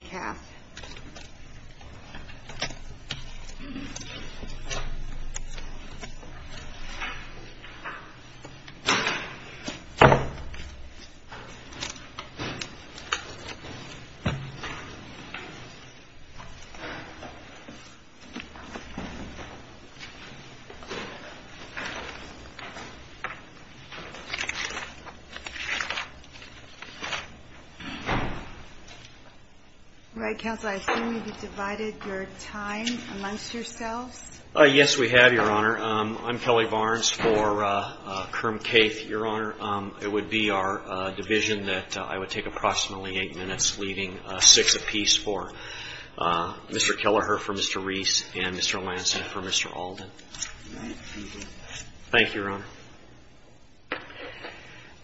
Kath Right. Counsel, I assume you've divided your time amongst yourselves. Uh, yes, we have your honor. Um, I'm Kelly Barnes for, uh, uh, Kerm, Kate, your honor. Um, it would be our, uh, division that, uh, I would take approximately eight minutes leaving a six a piece for, uh, Mr. Kelleher for Mr. Reese and Mr. Lansing for Mr. Alden. Thank you, Ron.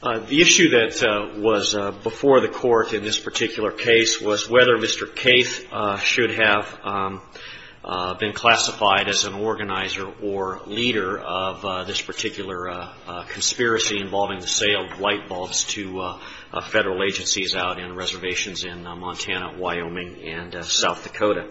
Uh, the issue that, uh, was, uh, before the court in this particular case was whether Mr. Case, uh, should have, um, uh, been classified as an organizer or leader of, uh, this particular, uh, uh, conspiracy involving the sale of light bulbs to, uh, uh, federal agencies out in reservations in Montana, Wyoming, and South Dakota.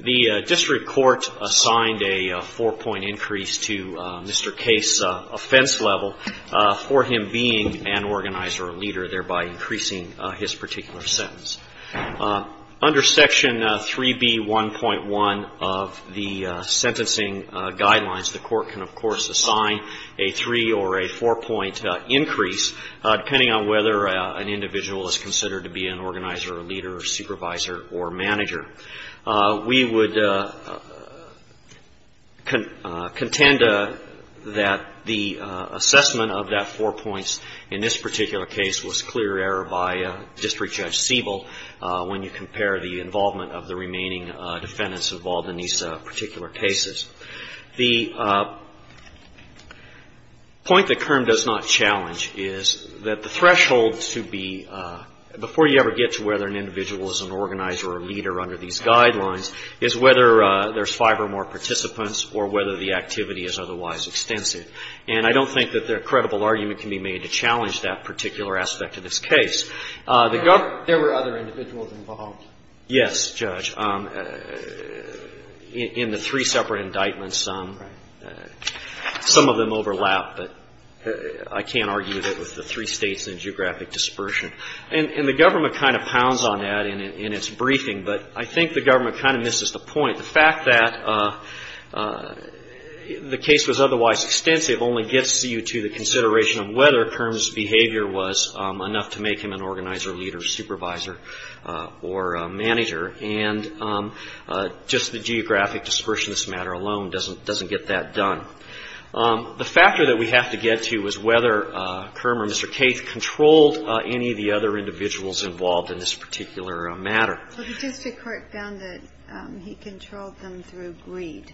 The district court assigned a four point increase to, uh, Mr. Case, uh, offense level, uh, for him being an organizer or leader, thereby increasing his particular sentence. Uh, under section, uh, 3B1.1 of the, uh, sentencing, uh, guidelines, the court can, of course, assign a three or a four point, uh, increase, uh, depending on whether, uh, an individual is considered to be an organizer or leader or supervisor or manager. Uh, we would, uh, uh, contend, uh, that the, uh, assessment of that four points in this particular case was clear error by, uh, district judge Siebel, uh, when you compare the involvement of the remaining, uh, defendants involved in these, uh, particular cases. The, uh, point that Kern does not challenge is that the threshold to be, uh, before you ever get to whether an individual is an organizer or leader under these guidelines is whether, uh, there's five or more participants or whether the activity is otherwise extensive. And I don't think that there are credible argument can be made to challenge that particular aspect of this case. Uh, the gov... There were other individuals involved. Yes, judge. Um, in the three separate indictments, um, some of them overlap, but I can't argue that with the three states and geographic dispersion and the government kind of pounds on that in its briefing. But I think the government kind of misses the point. The fact that, uh, uh, the case was otherwise extensive only gets you to the organizer, leader, supervisor, uh, or, uh, manager. And, um, uh, just the geographic dispersion, this matter alone doesn't, doesn't get that done. Um, the factor that we have to get to is whether, uh, Kern or Mr. Kaith controlled, uh, any of the other individuals involved in this particular matter. Well, the district court found that, um, he controlled them through greed.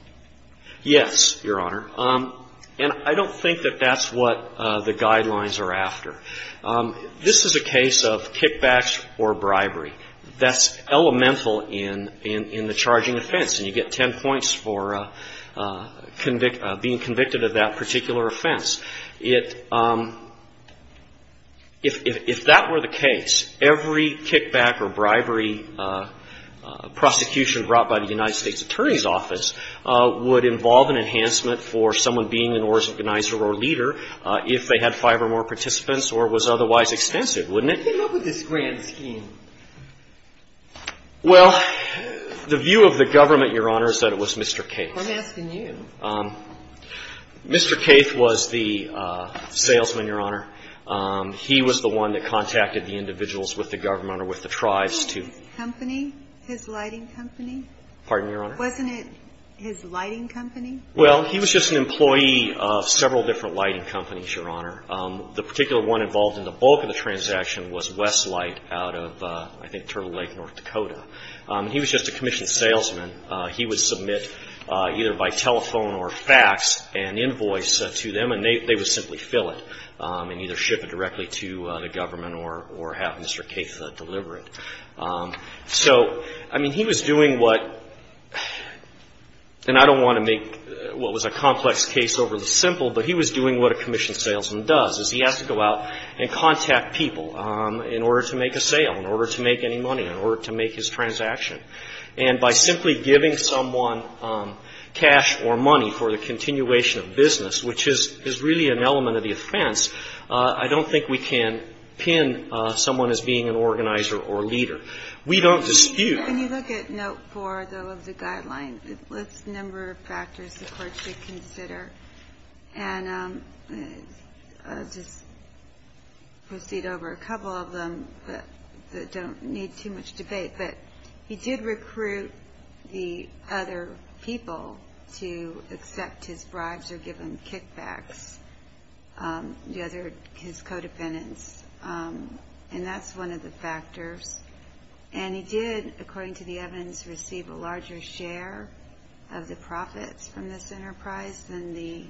Yes, Your Honor. Um, and I don't think that that's what, uh, the guidelines are after. Um, this is a case of kickbacks or bribery. That's elemental in, in, in the charging offense. And you get 10 points for, uh, uh, convict, uh, being convicted of that particular offense. It, um, if, if, if that were the case, every kickback or bribery, uh, uh, prosecution brought by the United States attorney's office, uh, would involve an enhancement for someone being an organizer or leader, uh, if they had five or more participants or was otherwise extensive, wouldn't it? How did they come up with this grand scheme? Well, the view of the government, Your Honor, is that it was Mr. Kaith. I'm asking you. Um, Mr. Kaith was the, uh, salesman, Your Honor. Um, he was the one that contacted the individuals with the government or with the tribes to... Wasn't it his company, his lighting company? Pardon me, Your Honor? Wasn't it his lighting company? Well, he was just an employee of several different lighting companies, Your Honor. The particular one involved in the bulk of the transaction was Westlight out of, uh, I think Turtle Lake, North Dakota. Um, he was just a commissioned salesman. Uh, he would submit, uh, either by telephone or fax an invoice to them and they, they would simply fill it, um, and either ship it directly to the government or, or have Mr. Kaith deliver it. Um, so, I mean, he was doing what, and I don't want to make what was a complex case overly simple, but he was doing what a commissioned salesman does. He has to go out and contact people, um, in order to make a sale, in order to make any money, in order to make his transaction. And by simply giving someone, um, cash or money for the continuation of business, which is, is really an element of the offense, uh, I don't think we can pin, uh, someone as being an organizer or leader. We don't dispute... When you look at Note 4, though, of the guidelines, it lists a number of factors the Court should consider. And, um, I'll just proceed over a couple of them that, that don't need too much debate, but he did recruit the other people to accept his bribes or give him kickbacks, um, the other, his co-defendants, um, and that's one of the factors. And he did, according to the evidence, receive a larger share of the profits from this enterprise than the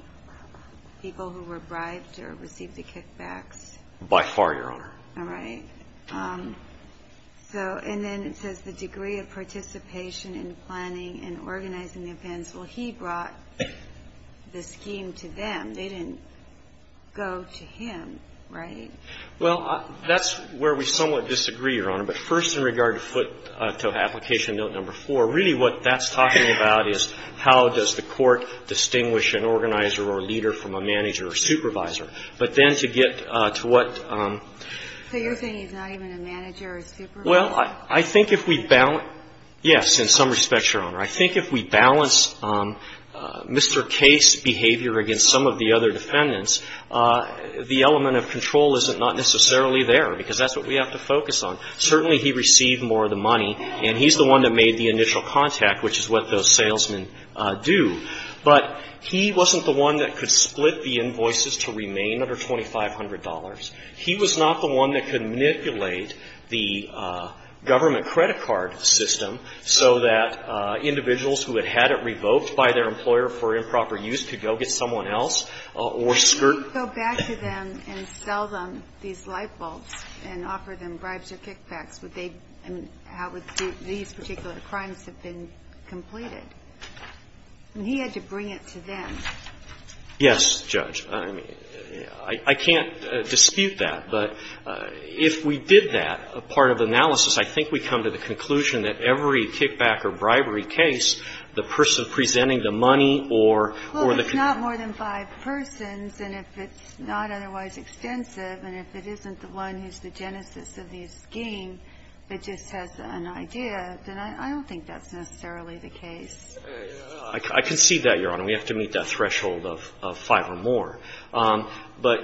people who were bribed or received the kickbacks. By far, Your Honor. All right. Um, so, and then it says the degree of participation in planning and organizing the offense. Well, he brought the scheme to them. They didn't go to him, right? Well, that's where we somewhat disagree, Your Honor. But first in regard to foot, uh, to Application Note Number 4, really what that's talking about is how does the Court distinguish an organizer or leader from a manager or supervisor. But then to get, uh, to what, um. So you're saying he's not even a manager or supervisor? Well, I, I think if we balance, yes, in some respects, Your Honor. I think if we balance, um, uh, Mr. Case's behavior against some of the other defendants, uh, the element of control isn't not necessarily there because that's what we have to focus on. Certainly he received more of the money and he's the one that made the initial contact, which is what those salesmen, uh, do. But he wasn't the one that could split the invoices to remain under $2,500. He was not the one that could manipulate the, uh, government credit card system so that, uh, individuals who had had it revoked by their employer for improper use could go get someone else, uh, or skirt. Go back to them and sell them these light bulbs and offer them bribes or kickbacks. Would they, I mean, how would these particular crimes have been completed? And he had to bring it to them. Yes, Judge. I mean, I can't dispute that, but, uh, if we did that, a part of the analysis, I think we come to the conclusion that every kickback or bribery case, the person presenting the money or, or the. Well, if it's not more than five persons and if it's not otherwise extensive and if it isn't the one who's the genesis of the scheme, but just has an idea, then I don't think that's necessarily the case. I concede that, Your Honor. We have to meet that threshold of five or more. Um, but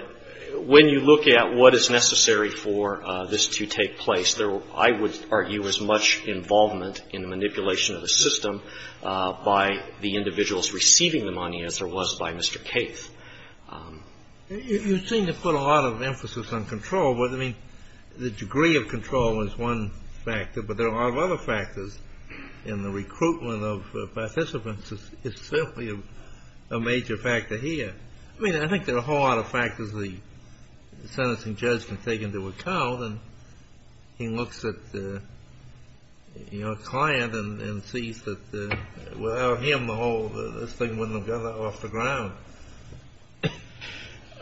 when you look at what is necessary for, uh, this to take place, there, I would argue, is much involvement in the manipulation of the system, uh, by the individuals receiving the money as there was by Mr. Kaith. Um, you, you seem to put a lot of emphasis on control, but I mean, the degree of control is one factor, but there are a lot of other factors in the recruitment of participants is, is simply a major factor here. I mean, I think there are a whole lot of factors the sentencing judge can take into account. And he looks at, uh, you know, a client and sees that, uh, without him, the whole, this thing wouldn't have gone off the ground. Uh,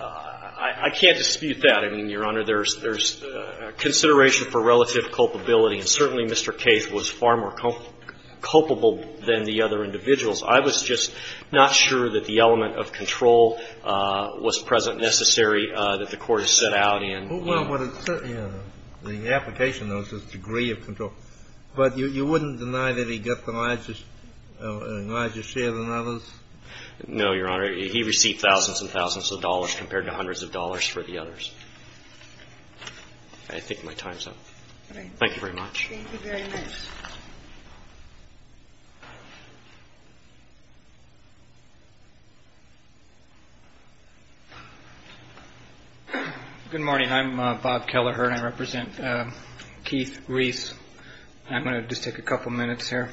I, I can't dispute that. I mean, Your Honor, there's, there's, uh, consideration for relative culpability and certainly Mr. Kaith was far more culpable than the other individuals. I was just not sure that the element of control, uh, was present necessary, uh, that the court has set out in. Well, but it's certainly, you know, the application knows his degree of control, but you, you wouldn't deny that he got the largest, uh, largest share than others? No, Your Honor. He received thousands and thousands of dollars compared to hundreds of dollars for the others. I think my time's up. Thank you very much. Good morning. I'm Bob Kelleher and I represent, uh, Keith Reese. I'm going to just take a couple of minutes here.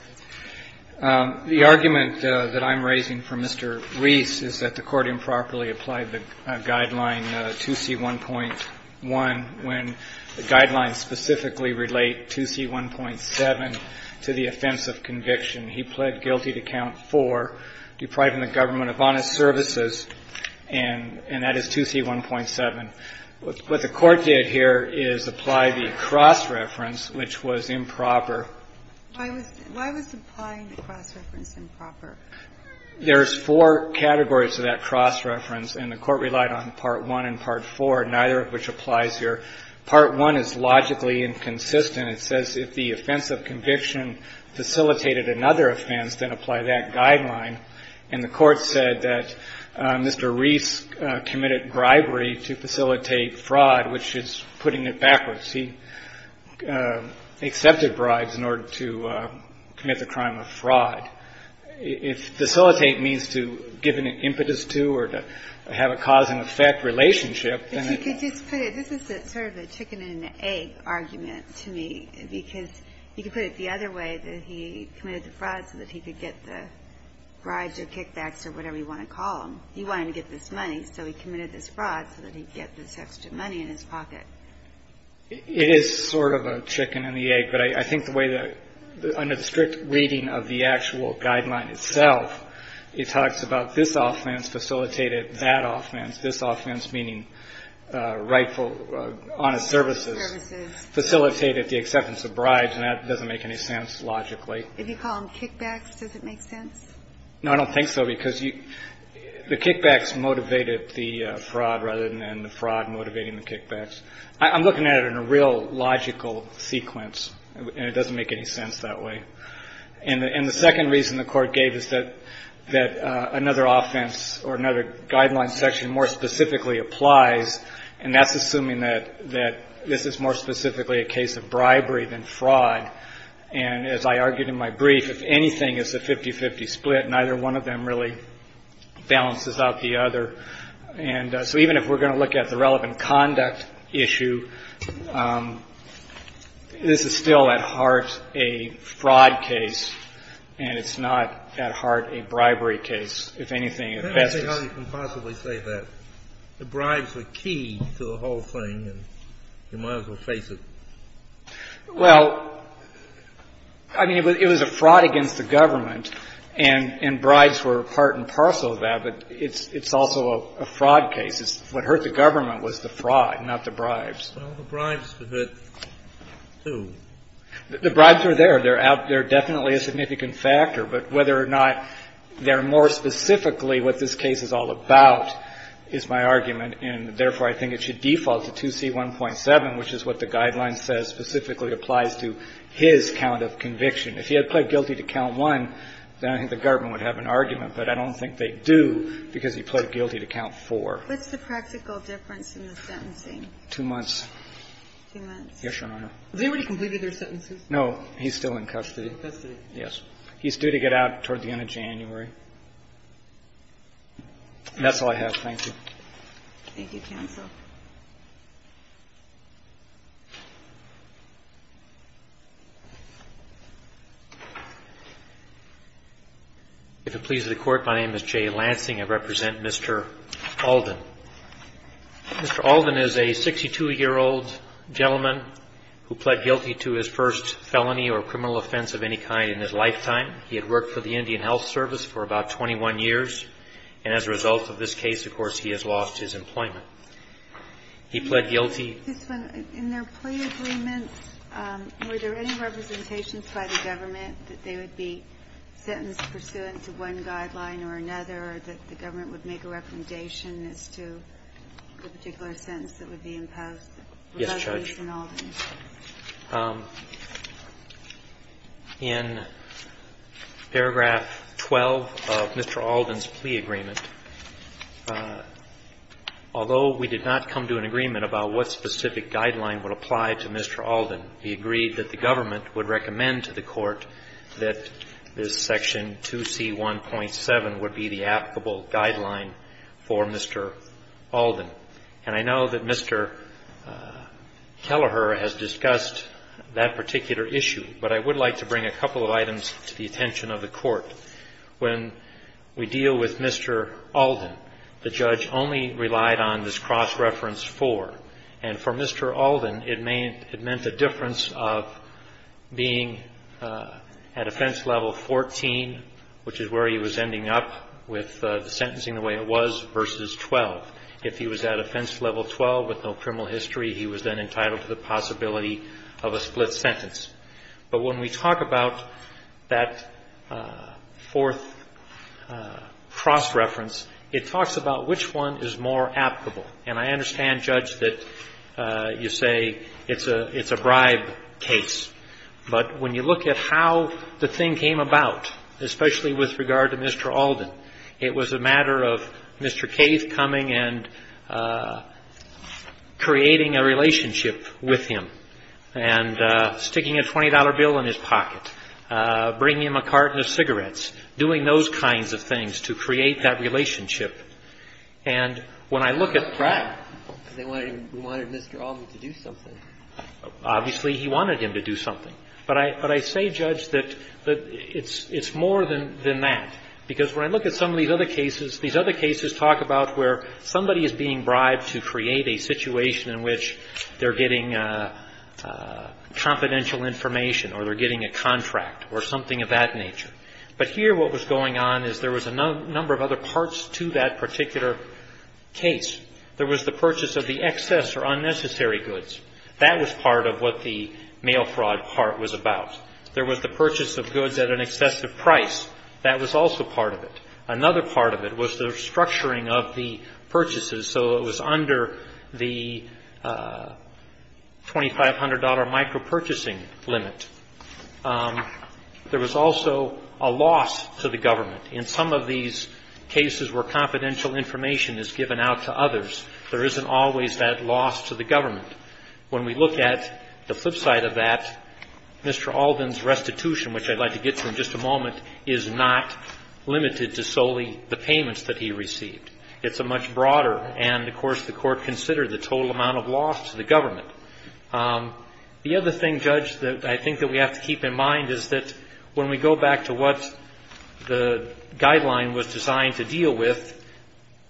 Um, the argument, uh, that I'm raising for Mr. Reese is that the court improperly applied the guideline, uh, 2C1.1 when the guidelines specifically relate 2C1.7 to the offense of conviction. He pled guilty to count four, depriving the government of honest services. And, and that is 2C1.7. What the court did here is apply the cross-reference, which was improper. Why was, why was applying the cross-reference improper? There's four categories to that cross-reference and the court relied on part one and part four, neither of which applies here. Part one is logically inconsistent. It says if the offense of conviction facilitated another offense, then apply that guideline. And the court said that, uh, Mr. Reese, uh, committed bribery to facilitate fraud, which is putting it backwards. He, uh, accepted bribes in order to, uh, commit the crime of fraud. If facilitate means to give an impetus to, or to have a cause and effect relationship, then it's... If you could just put it, this is sort of a chicken and egg argument to me, because you could put it the other way, that he committed the fraud so that he could get the bribes or kickbacks or whatever you want to call them. He wanted to get this money. So he committed this fraud so that he'd get this extra money in his pocket. It is sort of a chicken and the egg, but I think the way that under the strict reading of the actual guideline itself, it talks about this offense facilitated that offense, this offense, meaning, uh, rightful, uh, honest services, facilitated the acceptance of bribes. And that doesn't make any sense logically. If you call them kickbacks, does it make sense? No, I don't think so. Because you, the kickbacks motivated the fraud rather than the fraud motivating the kickbacks. I'm looking at it in a real logical sequence and it doesn't make any sense that way. And the, and the second reason the court gave is that, that, uh, another offense or another guideline section more specifically applies. And that's assuming that, that this is more specifically a case of bribery than fraud. And as I argued in my brief, if anything is a 50, 50 split, neither one of them really balances out the other. And, uh, so even if we're going to look at the relevant conduct issue, um, this is still at heart a fraud case and it's not at heart a bribery case, if anything at best. Let me see how you can possibly say that the bribes were key to the whole thing and you might as well face it. Well, I mean, it was, it was a fraud against the government and, and bribes were part and parcel of that, but it's, it's also a fraud case. It's what hurt the government was the fraud, not the bribes. Well, the bribes were hit too. The bribes were there. They're out there. Definitely a significant factor, but whether or not they're more specifically what this case is all about is my argument. And therefore I think it should default to 2C1.7, which is what the guideline says specifically applies to his count of conviction. If he had pled guilty to count one, then I think the government would have an argument. But I don't think they do because he pled guilty to count four. What's the practical difference in the sentencing? Two months. Two months. Yes, Your Honor. Have they already completed their sentences? No. He's still in custody. In custody. Yes. He's due to get out toward the end of January. That's all I have. Thank you. Thank you, counsel. If it pleases the Court, my name is Jay Lansing. I represent Mr. Alden. Mr. Alden is a 62-year-old gentleman who pled guilty to his first felony or criminal offense of any kind in his lifetime. He had worked for the Indian Health Service for about 21 years. And as a result of this case, of course, he has lost his employment. He pled guilty. In their plea agreements, were there any representations by the government that they would be sentenced pursuant to one guideline or another, or that the government would make a recommendation as to the particular sentence that would be imposed on Mr. Alden? Yes, Judge. In paragraph 12 of Mr. Alden's plea agreement, although Mr. Alden's plea agreement did not come to an agreement about what specific guideline would apply to Mr. Alden, he agreed that the government would recommend to the Court that this section 2C1.7 would be the applicable guideline for Mr. Alden. And I know that Mr. Kelleher has discussed that particular issue, but I would like to bring a couple of items to the attention of the Court. When we deal with Mr. Alden, the judge only relied on this cross-reference 4. And for Mr. Alden, it meant a difference of being at offense level 14, which is where he was ending up with the sentencing the way it was, versus 12. If he was at offense level 12 with no criminal history, he was then entitled to the possibility of a split sentence. But when we talk about that fourth cross-reference, it talks about which one is more applicable. And I understand, Judge, that you say it's a bribe case. But when you look at how the thing came about, especially with regard to Mr. Alden, it was a matter of Mr. Keith coming and creating a relationship with him. And sticking a $20 bill in his pocket, bringing him a carton of cigarettes, doing those kinds of things to create that relationship. And when I look at bribe, obviously, he wanted him to do something. But I say, Judge, that it's more than that. Because when I look at some of these other cases, these other cases talk about where somebody is being bribed to create a situation in which they're getting confidential information, or they're getting a contract, or something of that nature. But here what was going on is there was a number of other parts to that particular case. There was the purchase of the excess or unnecessary goods. That was part of what the mail fraud part was about. There was the purchase of goods at an excessive price. That was also part of it. Another part of it was the structuring of the purchases. So it was under the $2,500 micro-purchasing limit. There was also a loss to the government. In some of these cases where confidential information is given out to others, there isn't always that loss to the government. When we look at the flip side of that, Mr. Alden's restitution, which I'd like to get to in just a moment, is not limited to solely the payments that he received. It's a much broader, and of course the court considered the total amount of loss to the government. The other thing, Judge, that I think that we have to keep in mind is that when we go back to what the guideline was designed to deal with,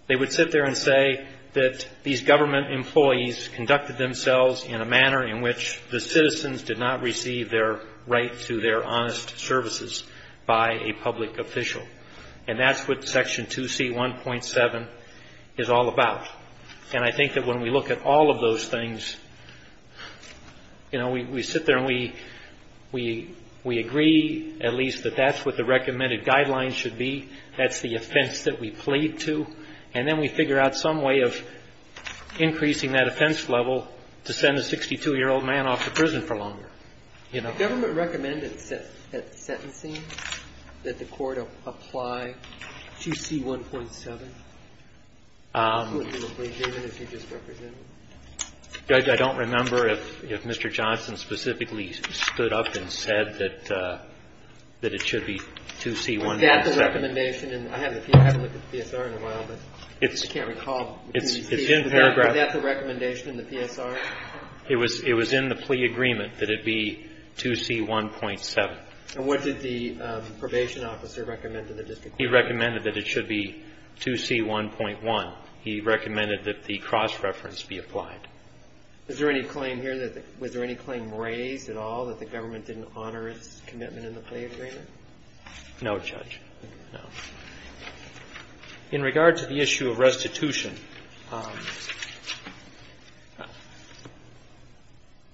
they would sit there and say that these government employees conducted themselves in a manner in which the citizens did not receive their right to their honest services by a public official. And that's what Section 2C1.7 is all about. And I think that when we look at all of those things, you know, we sit there and we agree, at least, that that's what the recommended guidelines should be. That's the offense that we plead to. And then we figure out some way of increasing that offense level to send a 62-year-old man off to prison for longer. The government recommended that sentencing, that the court apply 2C1.7 to an employee, David, as you just represented. I don't remember if Mr. Johnson specifically stood up and said that it should be 2C1.7. Was that the recommendation? I haven't looked at the PSR in a while, but I can't recall. It's in paragraph. Was that the recommendation in the PSR? It was in the plea agreement that it be 2C1.7. And what did the probation officer recommend to the district court? He recommended that it should be 2C1.1. He recommended that the cross-reference be applied. Is there any claim here that, was there any claim raised at all that the government didn't honor its commitment in the plea agreement? No, Judge, no. In regard to the issue of restitution,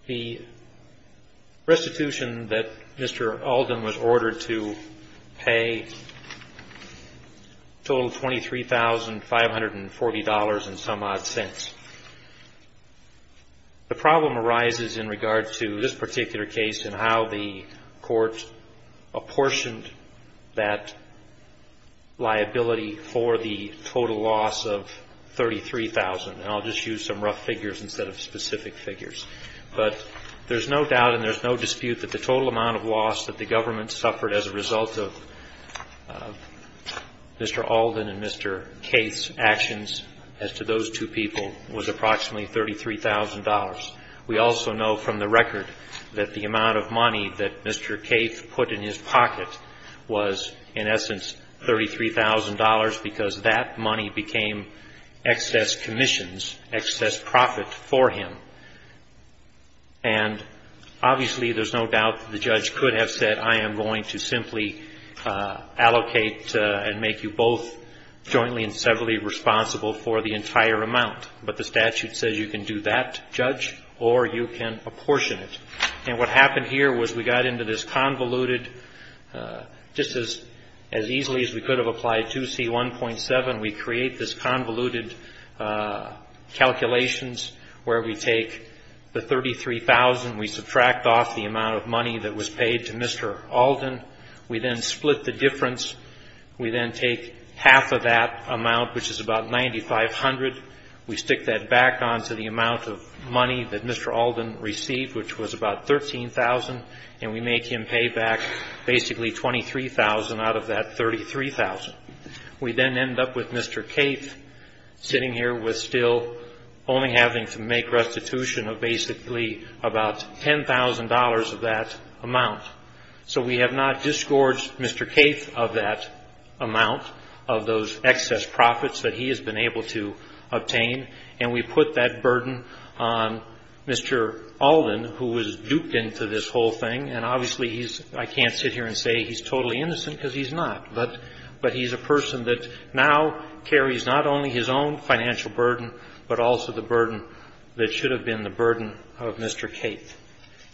the restitution that Mr. Alden was ordered to pay totaled $23,540 and some odd cents. The problem arises in regard to this particular case and how the court apportioned that liability for the total loss of $33,000. And I'll just use some rough figures instead of specific figures. But there's no doubt and there's no dispute that the total amount of loss that the government suffered as a result of Mr. Alden and Mr. Kaith's actions as to those two people was approximately $33,000. We also know from the record that the amount of money that Mr. Kaith put in his pocket was, in essence, $33,000 because that money became excess commissions, excess profit for him. And obviously, there's no doubt that the judge could have said, I am going to simply allocate and make you both jointly and severally responsible for the entire amount. But the statute says you can do that, judge, or you can apportion it. And what happened here was we got into this convoluted, just as easily as we could have applied 2C1.7, we create this convoluted calculations where we take the $33,000, we subtract off the amount of money that was paid to Mr. Alden. We then split the difference. We then take half of that amount, which is about $9,500. We stick that back onto the amount of money that Mr. Alden received, which was about $13,000, and we make him pay back basically $23,000 out of that $33,000. We then end up with Mr. Kaith sitting here with still only having to make restitution of basically about $10,000 of that amount. So we have not disgorged Mr. Kaith of that amount of those excess profits that he has been able to obtain, and we put that burden on Mr. Alden, who was duped into this whole thing, and obviously he's — I can't sit here and say he's totally innocent because he's not, but he's a person that now carries not only his own financial burden, but also the burden that should have been the burden of Mr. Kaith.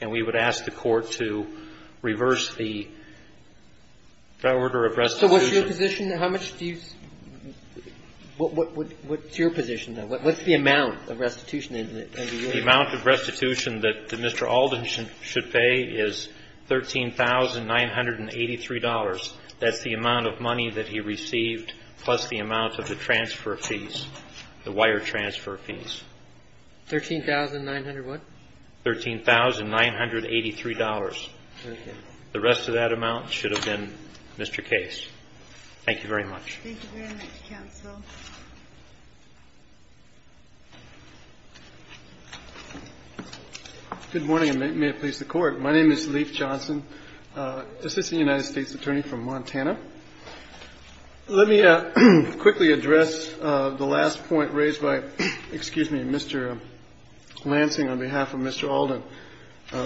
And we would ask the Court to reverse the order of restitution. So what's your position? How much do you — what's your position, though? What's the amount of restitution that you're asking? The amount of restitution that Mr. Alden should pay is $13,983. That's the amount of money that he received plus the amount of the transfer fees, the wire transfer fees. $13,900 what? $13,983. Okay. The rest of that amount should have been Mr. Kaith's. Thank you very much. Thank you very much, counsel. Good morning, and may it please the Court. My name is Leif Johnson, assistant United States attorney from Montana. Let me quickly address the last point raised by — excuse me — Mr. Lansing on behalf of Mr. Alden.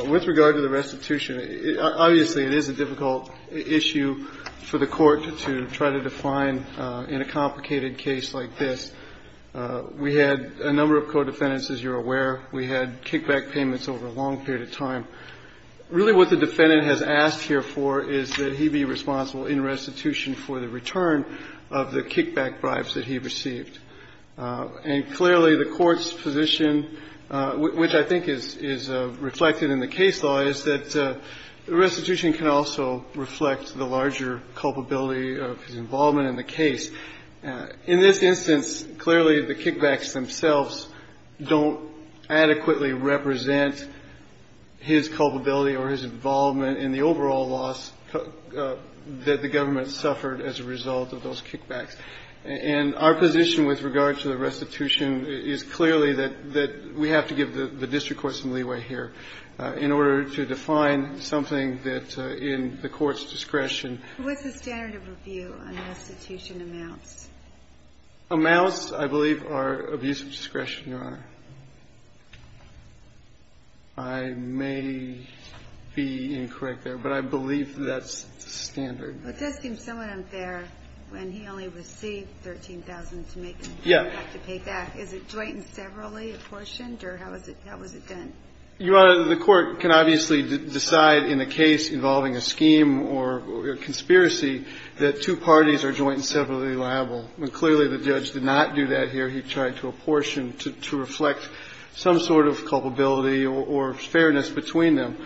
With regard to the restitution, obviously it is a difficult issue for the Court to try to define in a complicated case like this. We had a number of co-defendants, as you're aware. We had kickback payments over a long period of time. Really what the defendant has asked here for is that he be responsible in restitution for the return of the kickback bribes that he received. And clearly the Court's position, which I think is reflected in the case law, is that restitution can also reflect the larger culpability of his involvement in the case. In this instance, clearly the kickbacks themselves don't adequately represent his culpability or his involvement in the overall loss that the government suffered as a result of those kickbacks. And our position with regard to the restitution is clearly that we have to give the district court some leeway here in order to define something that in the Court's discretion — What's the standard of review on restitution amounts? Amounts, I believe, are abuse of discretion, Your Honor. I may be incorrect there, but I believe that's the standard. Well, it does seem somewhat unfair when he only received $13,000 to make a kickback to pay back. Is it joint and severally apportioned, or how was it done? Your Honor, the Court can obviously decide in a case involving a scheme or a conspiracy that two parties are joint and severally liable. Clearly the judge did not do that here. He tried to apportion to reflect some sort of culpability or fairness between them.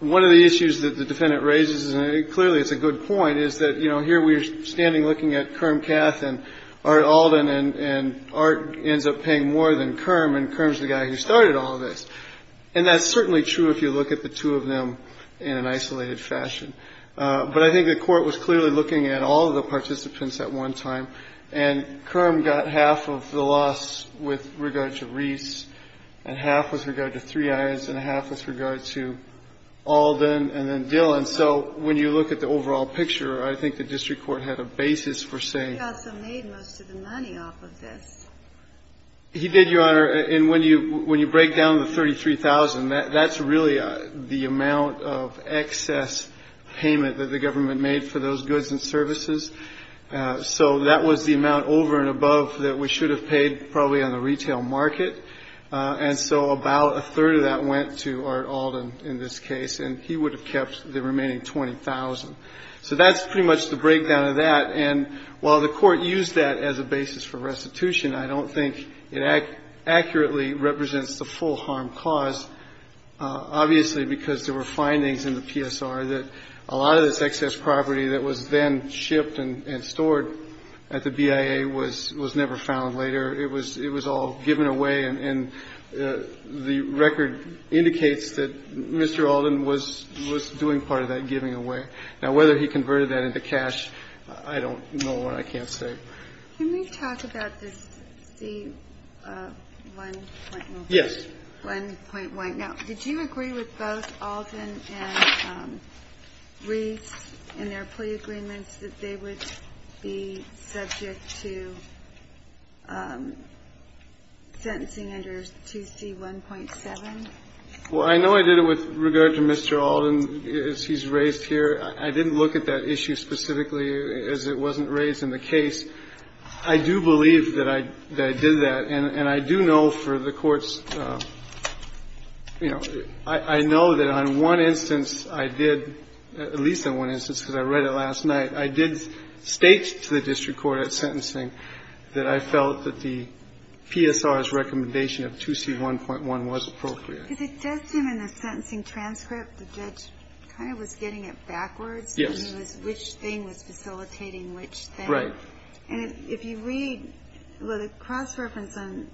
One of the issues that the Defendant raises, and clearly it's a good point, is that, you know, here we're standing looking at Kerm, Cath, and Art Alden, and Art ends up paying more than Kerm, and Kerm's the guy who started all of this. And that's certainly true if you look at the two of them in an isolated fashion. But I think the Court was clearly looking at all of the participants at one time, and Kerm got half of the loss with regard to Reese and half with regard to Three Alden and then Dillon. So when you look at the overall picture, I think the district court had a basis for saying. He also made most of the money off of this. He did, Your Honor. And when you break down the $33,000, that's really the amount of excess payment that the government made for those goods and services. So that was the amount over and above that we should have paid probably on the retail market. And so about a third of that went to Art Alden in this case, and he would have kept the remaining $20,000. So that's pretty much the breakdown of that. And while the Court used that as a basis for restitution, I don't think it accurately represents the full harm caused, obviously because there were findings in the PSR that a lot of this excess property that was then shipped and stored at the BIA was never found later. It was all given away, and the record indicates that Mr. Alden was doing part of that giving away. Now, whether he converted that into cash, I don't know, and I can't say. Can we talk about this C1.1? Yes. 1.1. Now, did you agree with both Alden and Reese in their plea agreements that they would be subject to sentencing under 2C1.7? Well, I know I did it with regard to Mr. Alden as he's raised here. I didn't look at that issue specifically as it wasn't raised in the case. I do believe that I did that, and I do know for the courts, you know, I know that on one instance I did, at least on one instance because I read it last night, I did not send a date to the district court at sentencing that I felt that the PSR's recommendation of 2C1.1 was appropriate. Because it does seem in the sentencing transcript the judge kind of was getting it backwards. Yes. Which thing was facilitating which thing. Right. And if you read the cross-reference on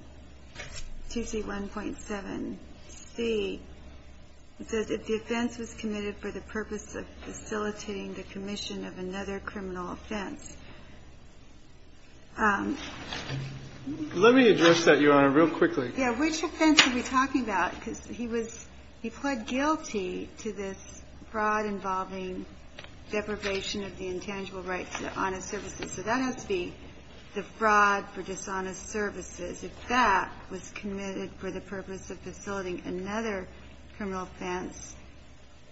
2C1.7c, it says that the offense was committed for the purpose of facilitating the commission of another criminal offense. Let me address that, Your Honor, real quickly. Yeah. Which offense are we talking about? Because he was he pled guilty to this fraud involving deprivation of the intangible rights to honest services. So that has to be the fraud for dishonest services. If that was committed for the purpose of facilitating another criminal offense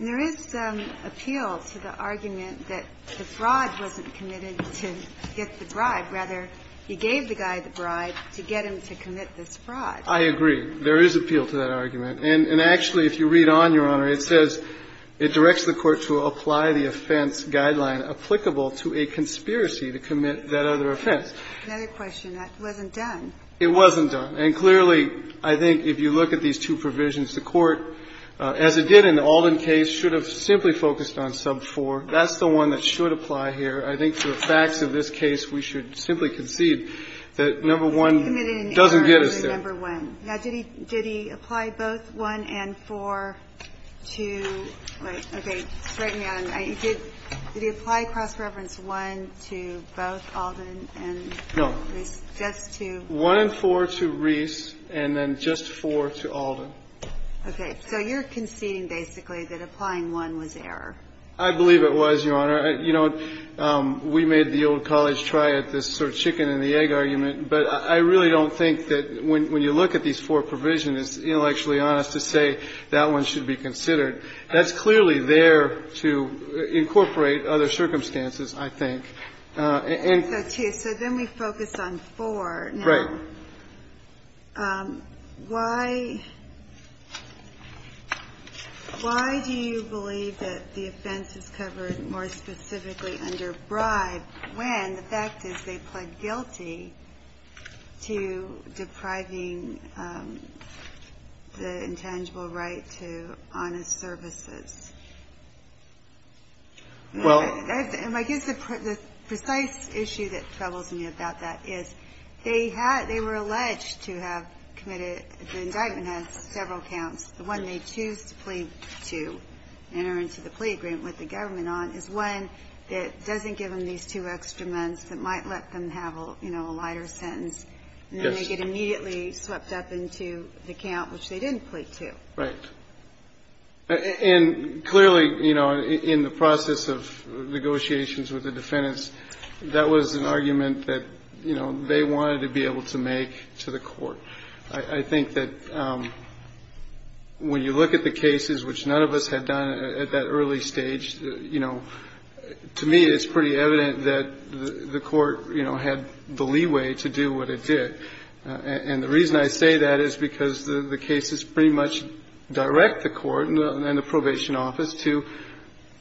There is some appeal to the argument that the fraud wasn't committed to get the bribe. Rather, he gave the guy the bribe to get him to commit this fraud. I agree. There is appeal to that argument. And actually, if you read on, Your Honor, it says it directs the court to apply the offense guideline applicable to a conspiracy to commit that other offense. Another question. That wasn't done. It wasn't done. And clearly, I think, if you look at these two provisions, the court, as it did in the Alden case, should have simply focused on sub 4. That's the one that should apply here. I think for the facts of this case, we should simply concede that number 1 doesn't get us there. Now, did he apply both 1 and 4 to, right, okay, straighten me out. Did he apply cross-reference 1 to both Alden and these deaths, too? 1 and 4 to Reese and then just 4 to Alden. Okay. So you're conceding basically that applying 1 was error. I believe it was, Your Honor. You know, we made the old college try it, this sort of chicken and the egg argument. But I really don't think that when you look at these four provisions, intellectually honest to say that one should be considered, that's clearly there to incorporate other circumstances, I think. So then we focus on 4. Right. Why do you believe that the offense is covered more specifically under bribe when the fact is they pled guilty to depriving the intangible right to honest services? Well, I guess the precise issue that troubles me about that is they were alleged to have committed, the indictment has several counts. The one they choose to plead to enter into the plea agreement with the government on is one that doesn't give them these two extra months that might let them have, you know, a lighter sentence. Yes. And then they get immediately swept up into the count which they didn't plead to. Right. And clearly, you know, in the process of negotiations with the defendants, that was an argument that, you know, they wanted to be able to make to the court. I think that when you look at the cases, which none of us had done at that early stage, you know, to me it's pretty evident that the court, you know, had the leeway to do what it did. And the reason I say that is because the cases pretty much direct the court and the probation office to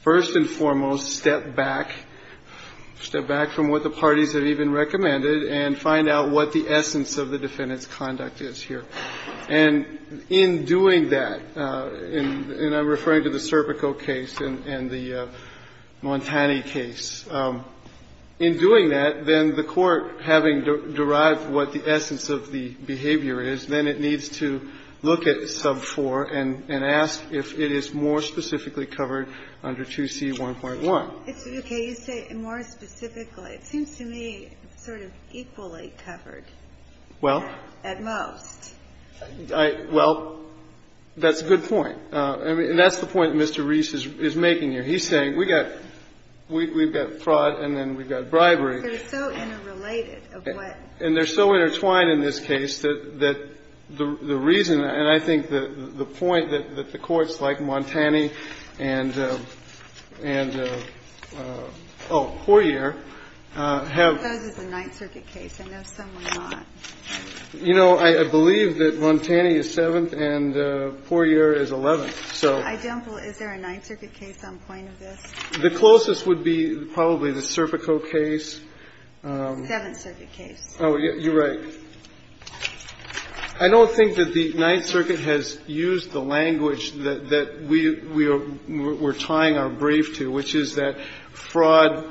first and foremost step back, step back from what the parties have even recommended and find out what the essence of the defendant's conduct is here. And in doing that, and I'm referring to the Serpico case and the Montani case, in doing that, then the court, having derived what the essence of the behavior is, then it needs to look at sub 4 and ask if it is more specifically covered under 2C1.1. It's okay. You say more specifically. It seems to me sort of equally covered. Well. At most. Well, that's a good point. And that's the point Mr. Reese is making here. He's saying we've got fraud and then we've got bribery. They're so interrelated of what. And they're so intertwined in this case that the reason, and I think the point that the courts like Montani and, oh, Poirier have. I suppose it's a Ninth Circuit case. I know some are not. You know, I believe that Montani is 7th and Poirier is 11th. So. Is there a Ninth Circuit case on point of this? The closest would be probably the Serpico case. 7th Circuit case. Oh, you're right. I don't think that the Ninth Circuit has used the language that we are tying our brief to, which is that fraud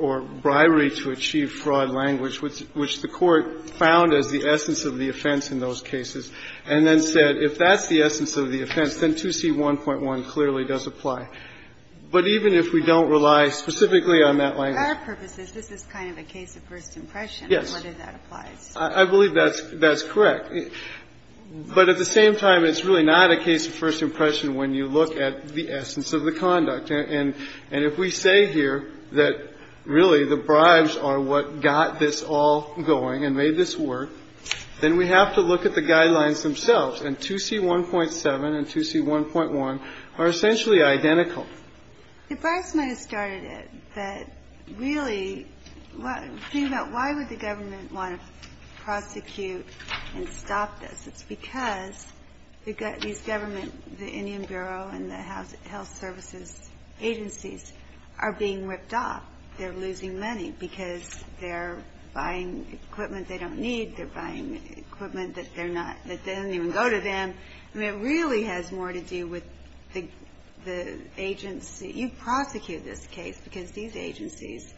or bribery to achieve fraud language, which the court found as the essence of the offense in those cases, and then said if that's the essence of the offense, then 2C1.1 clearly does apply. But even if we don't rely specifically on that language. For our purposes, this is kind of a case of first impression. Yes. Whether that applies. I believe that's correct. But at the same time, it's really not a case of first impression when you look at the essence of the conduct. And if we say here that really the bribes are what got this all going and made this work, then we have to look at the guidelines themselves. And 2C1.7 and 2C1.1 are essentially identical. The bribes might have started it, but really, the thing about why would the government want to prosecute and stop this? It's because these government, the Indian Bureau and the health services agencies are being ripped off. They're losing money because they're buying equipment they don't need. They're buying equipment that they're not, that doesn't even go to them. I mean, it really has more to do with the agency. You prosecute this case because these agencies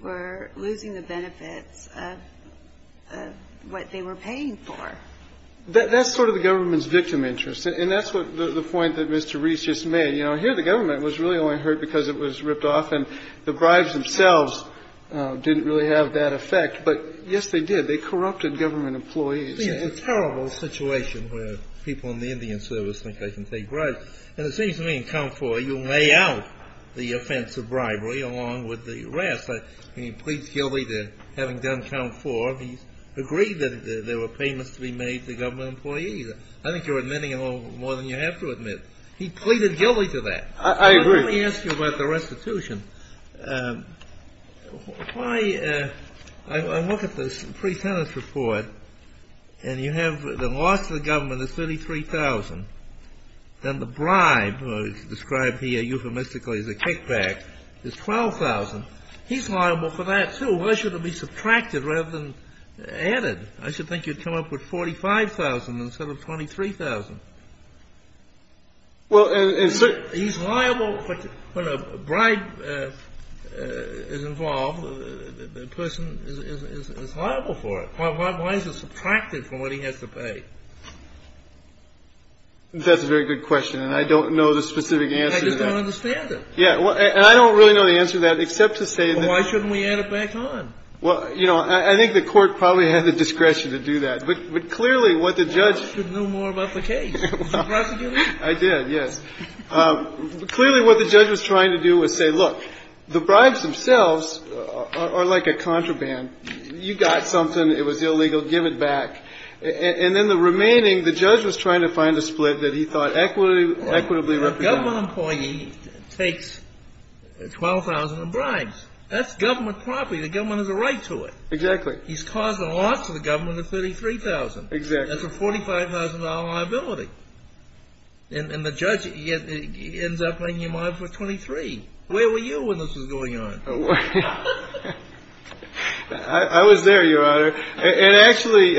were losing the benefits of what they were paying for. That's sort of the government's victim interest. And that's what the point that Mr. Reese just made. You know, here the government was really only hurt because it was ripped off and the bribes themselves didn't really have that effect. But, yes, they did. They corrupted government employees. It's a terrible situation where people in the Indian service think they can take bribes. And it seems to me in count four you lay out the offense of bribery along with the arrest. There were payments to be made to government employees. I think you're admitting a little more than you have to admit. He pleaded guilty to that. I agree. Let me ask you about the restitution. Why, I look at the pre-tenant's report and you have the loss to the government is 33,000. Then the bribe, described here euphemistically as a kickback, is 12,000. He's liable for that, too. Why should it be subtracted rather than added? I should think you'd come up with 45,000 instead of 23,000. He's liable. When a bribe is involved, the person is liable for it. Why is it subtracted from what he has to pay? That's a very good question. And I don't know the specific answer to that. I just don't understand it. And I don't really know the answer to that except to say that why shouldn't we add it back on? Well, you know, I think the court probably had the discretion to do that. But clearly what the judge ---- You should have known more about the case. Did you prosecute him? I did, yes. Clearly what the judge was trying to do was say, look, the bribes themselves are like a contraband. You got something. It was illegal. Give it back. And then the remaining, the judge was trying to find a split that he thought equitably represented. A government employee takes 12,000 of bribes. That's government property. The government has a right to it. Exactly. He's causing a loss to the government of 33,000. Exactly. That's a $45,000 liability. And the judge ends up paying him off for 23. Where were you when this was going on? I was there, Your Honor. And actually,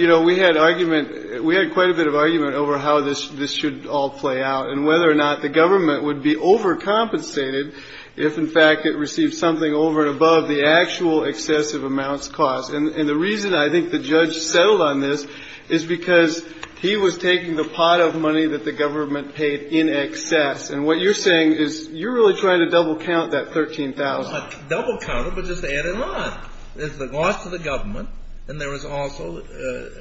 you know, we had argument. We had quite a bit of argument over how this should all play out and whether or not the government would be overcompensated if, in fact, it received something over and above the actual excessive amounts cost. And the reason I think the judge settled on this is because he was taking the pot of money that the government paid in excess. And what you're saying is you're really trying to double count that 13,000. It's not double counted, but just add it on. There's the loss to the government, and there is also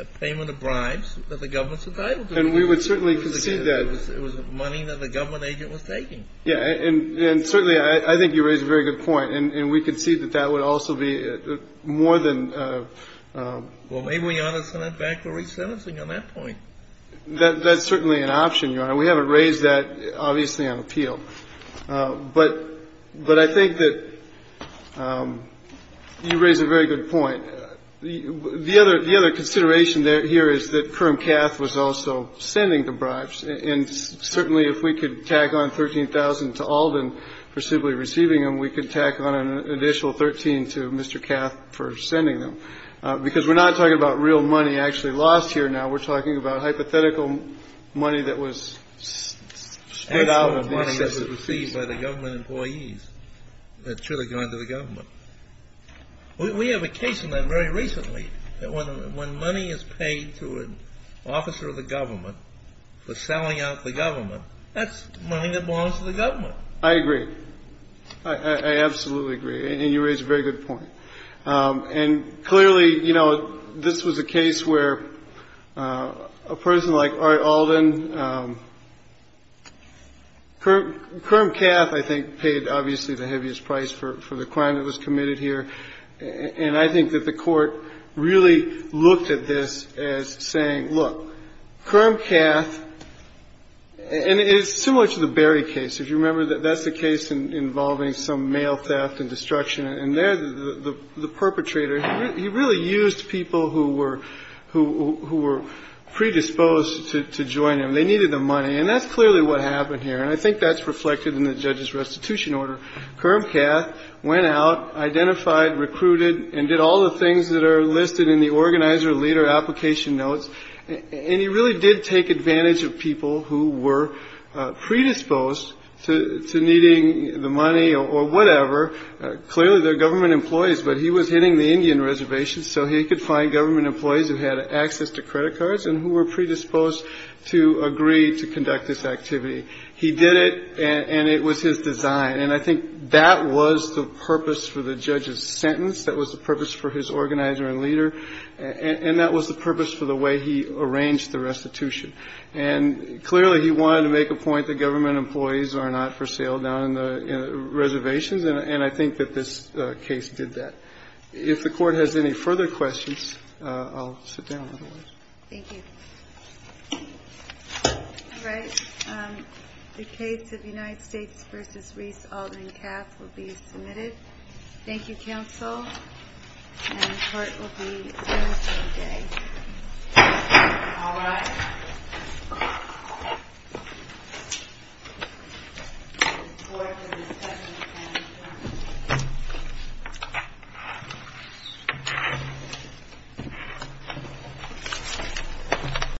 a payment of bribes that the government's entitled to. And we would certainly concede that. It was money that the government agent was taking. Yeah. And certainly, I think you raise a very good point. And we concede that that would also be more than a ---- Well, maybe we ought to send it back for resentencing on that point. That's certainly an option, Your Honor. We haven't raised that, obviously, on appeal. But I think that you raise a very good point. The other consideration here is that Kermcath was also sending the bribes. And certainly, if we could tack on 13,000 to Alden for simply receiving them, we could tack on an additional 13 to Mr. Kermcath for sending them. Because we're not talking about real money actually lost here now. We're talking about hypothetical money that was spent out of the excesses received by the government employees that should have gone to the government. We have a case on that very recently that when money is paid to an officer of the government for selling out the government, that's money that belongs to the government. I agree. I absolutely agree. And you raise a very good point. And clearly, you know, this was a case where a person like Ari Alden, Kermcath, I think, paid obviously the heaviest price for the crime that was committed here. And I think that the Court really looked at this as saying, look, Kermcath, and it's similar to the Berry case. If you remember, that's the case involving some mail theft and destruction. And there, the perpetrator, he really used people who were predisposed to join him. They needed the money. And that's clearly what happened here. And I think that's reflected in the judge's restitution order. Kermcath went out, identified, recruited, and did all the things that are listed in the organizer leader application notes. And he really did take advantage of people who were predisposed to needing the money or whatever. Clearly, they're government employees. But he was hitting the Indian reservation, so he could find government employees who had access to credit cards and who were predisposed to agree to conduct this activity. He did it, and it was his design. And I think that was the purpose for the judge's sentence. That was the purpose for his organizer and leader. And that was the purpose for the way he arranged the restitution. And clearly, he wanted to make a point that government employees are not for sale down in the reservations. And I think that this case did that. If the Court has any further questions, I'll sit down, otherwise. Thank you. All right. The case of United States v. Reese, Aldrin, Kapp will be submitted. Thank you, counsel. And the Court will be adjourned for the day. All rise.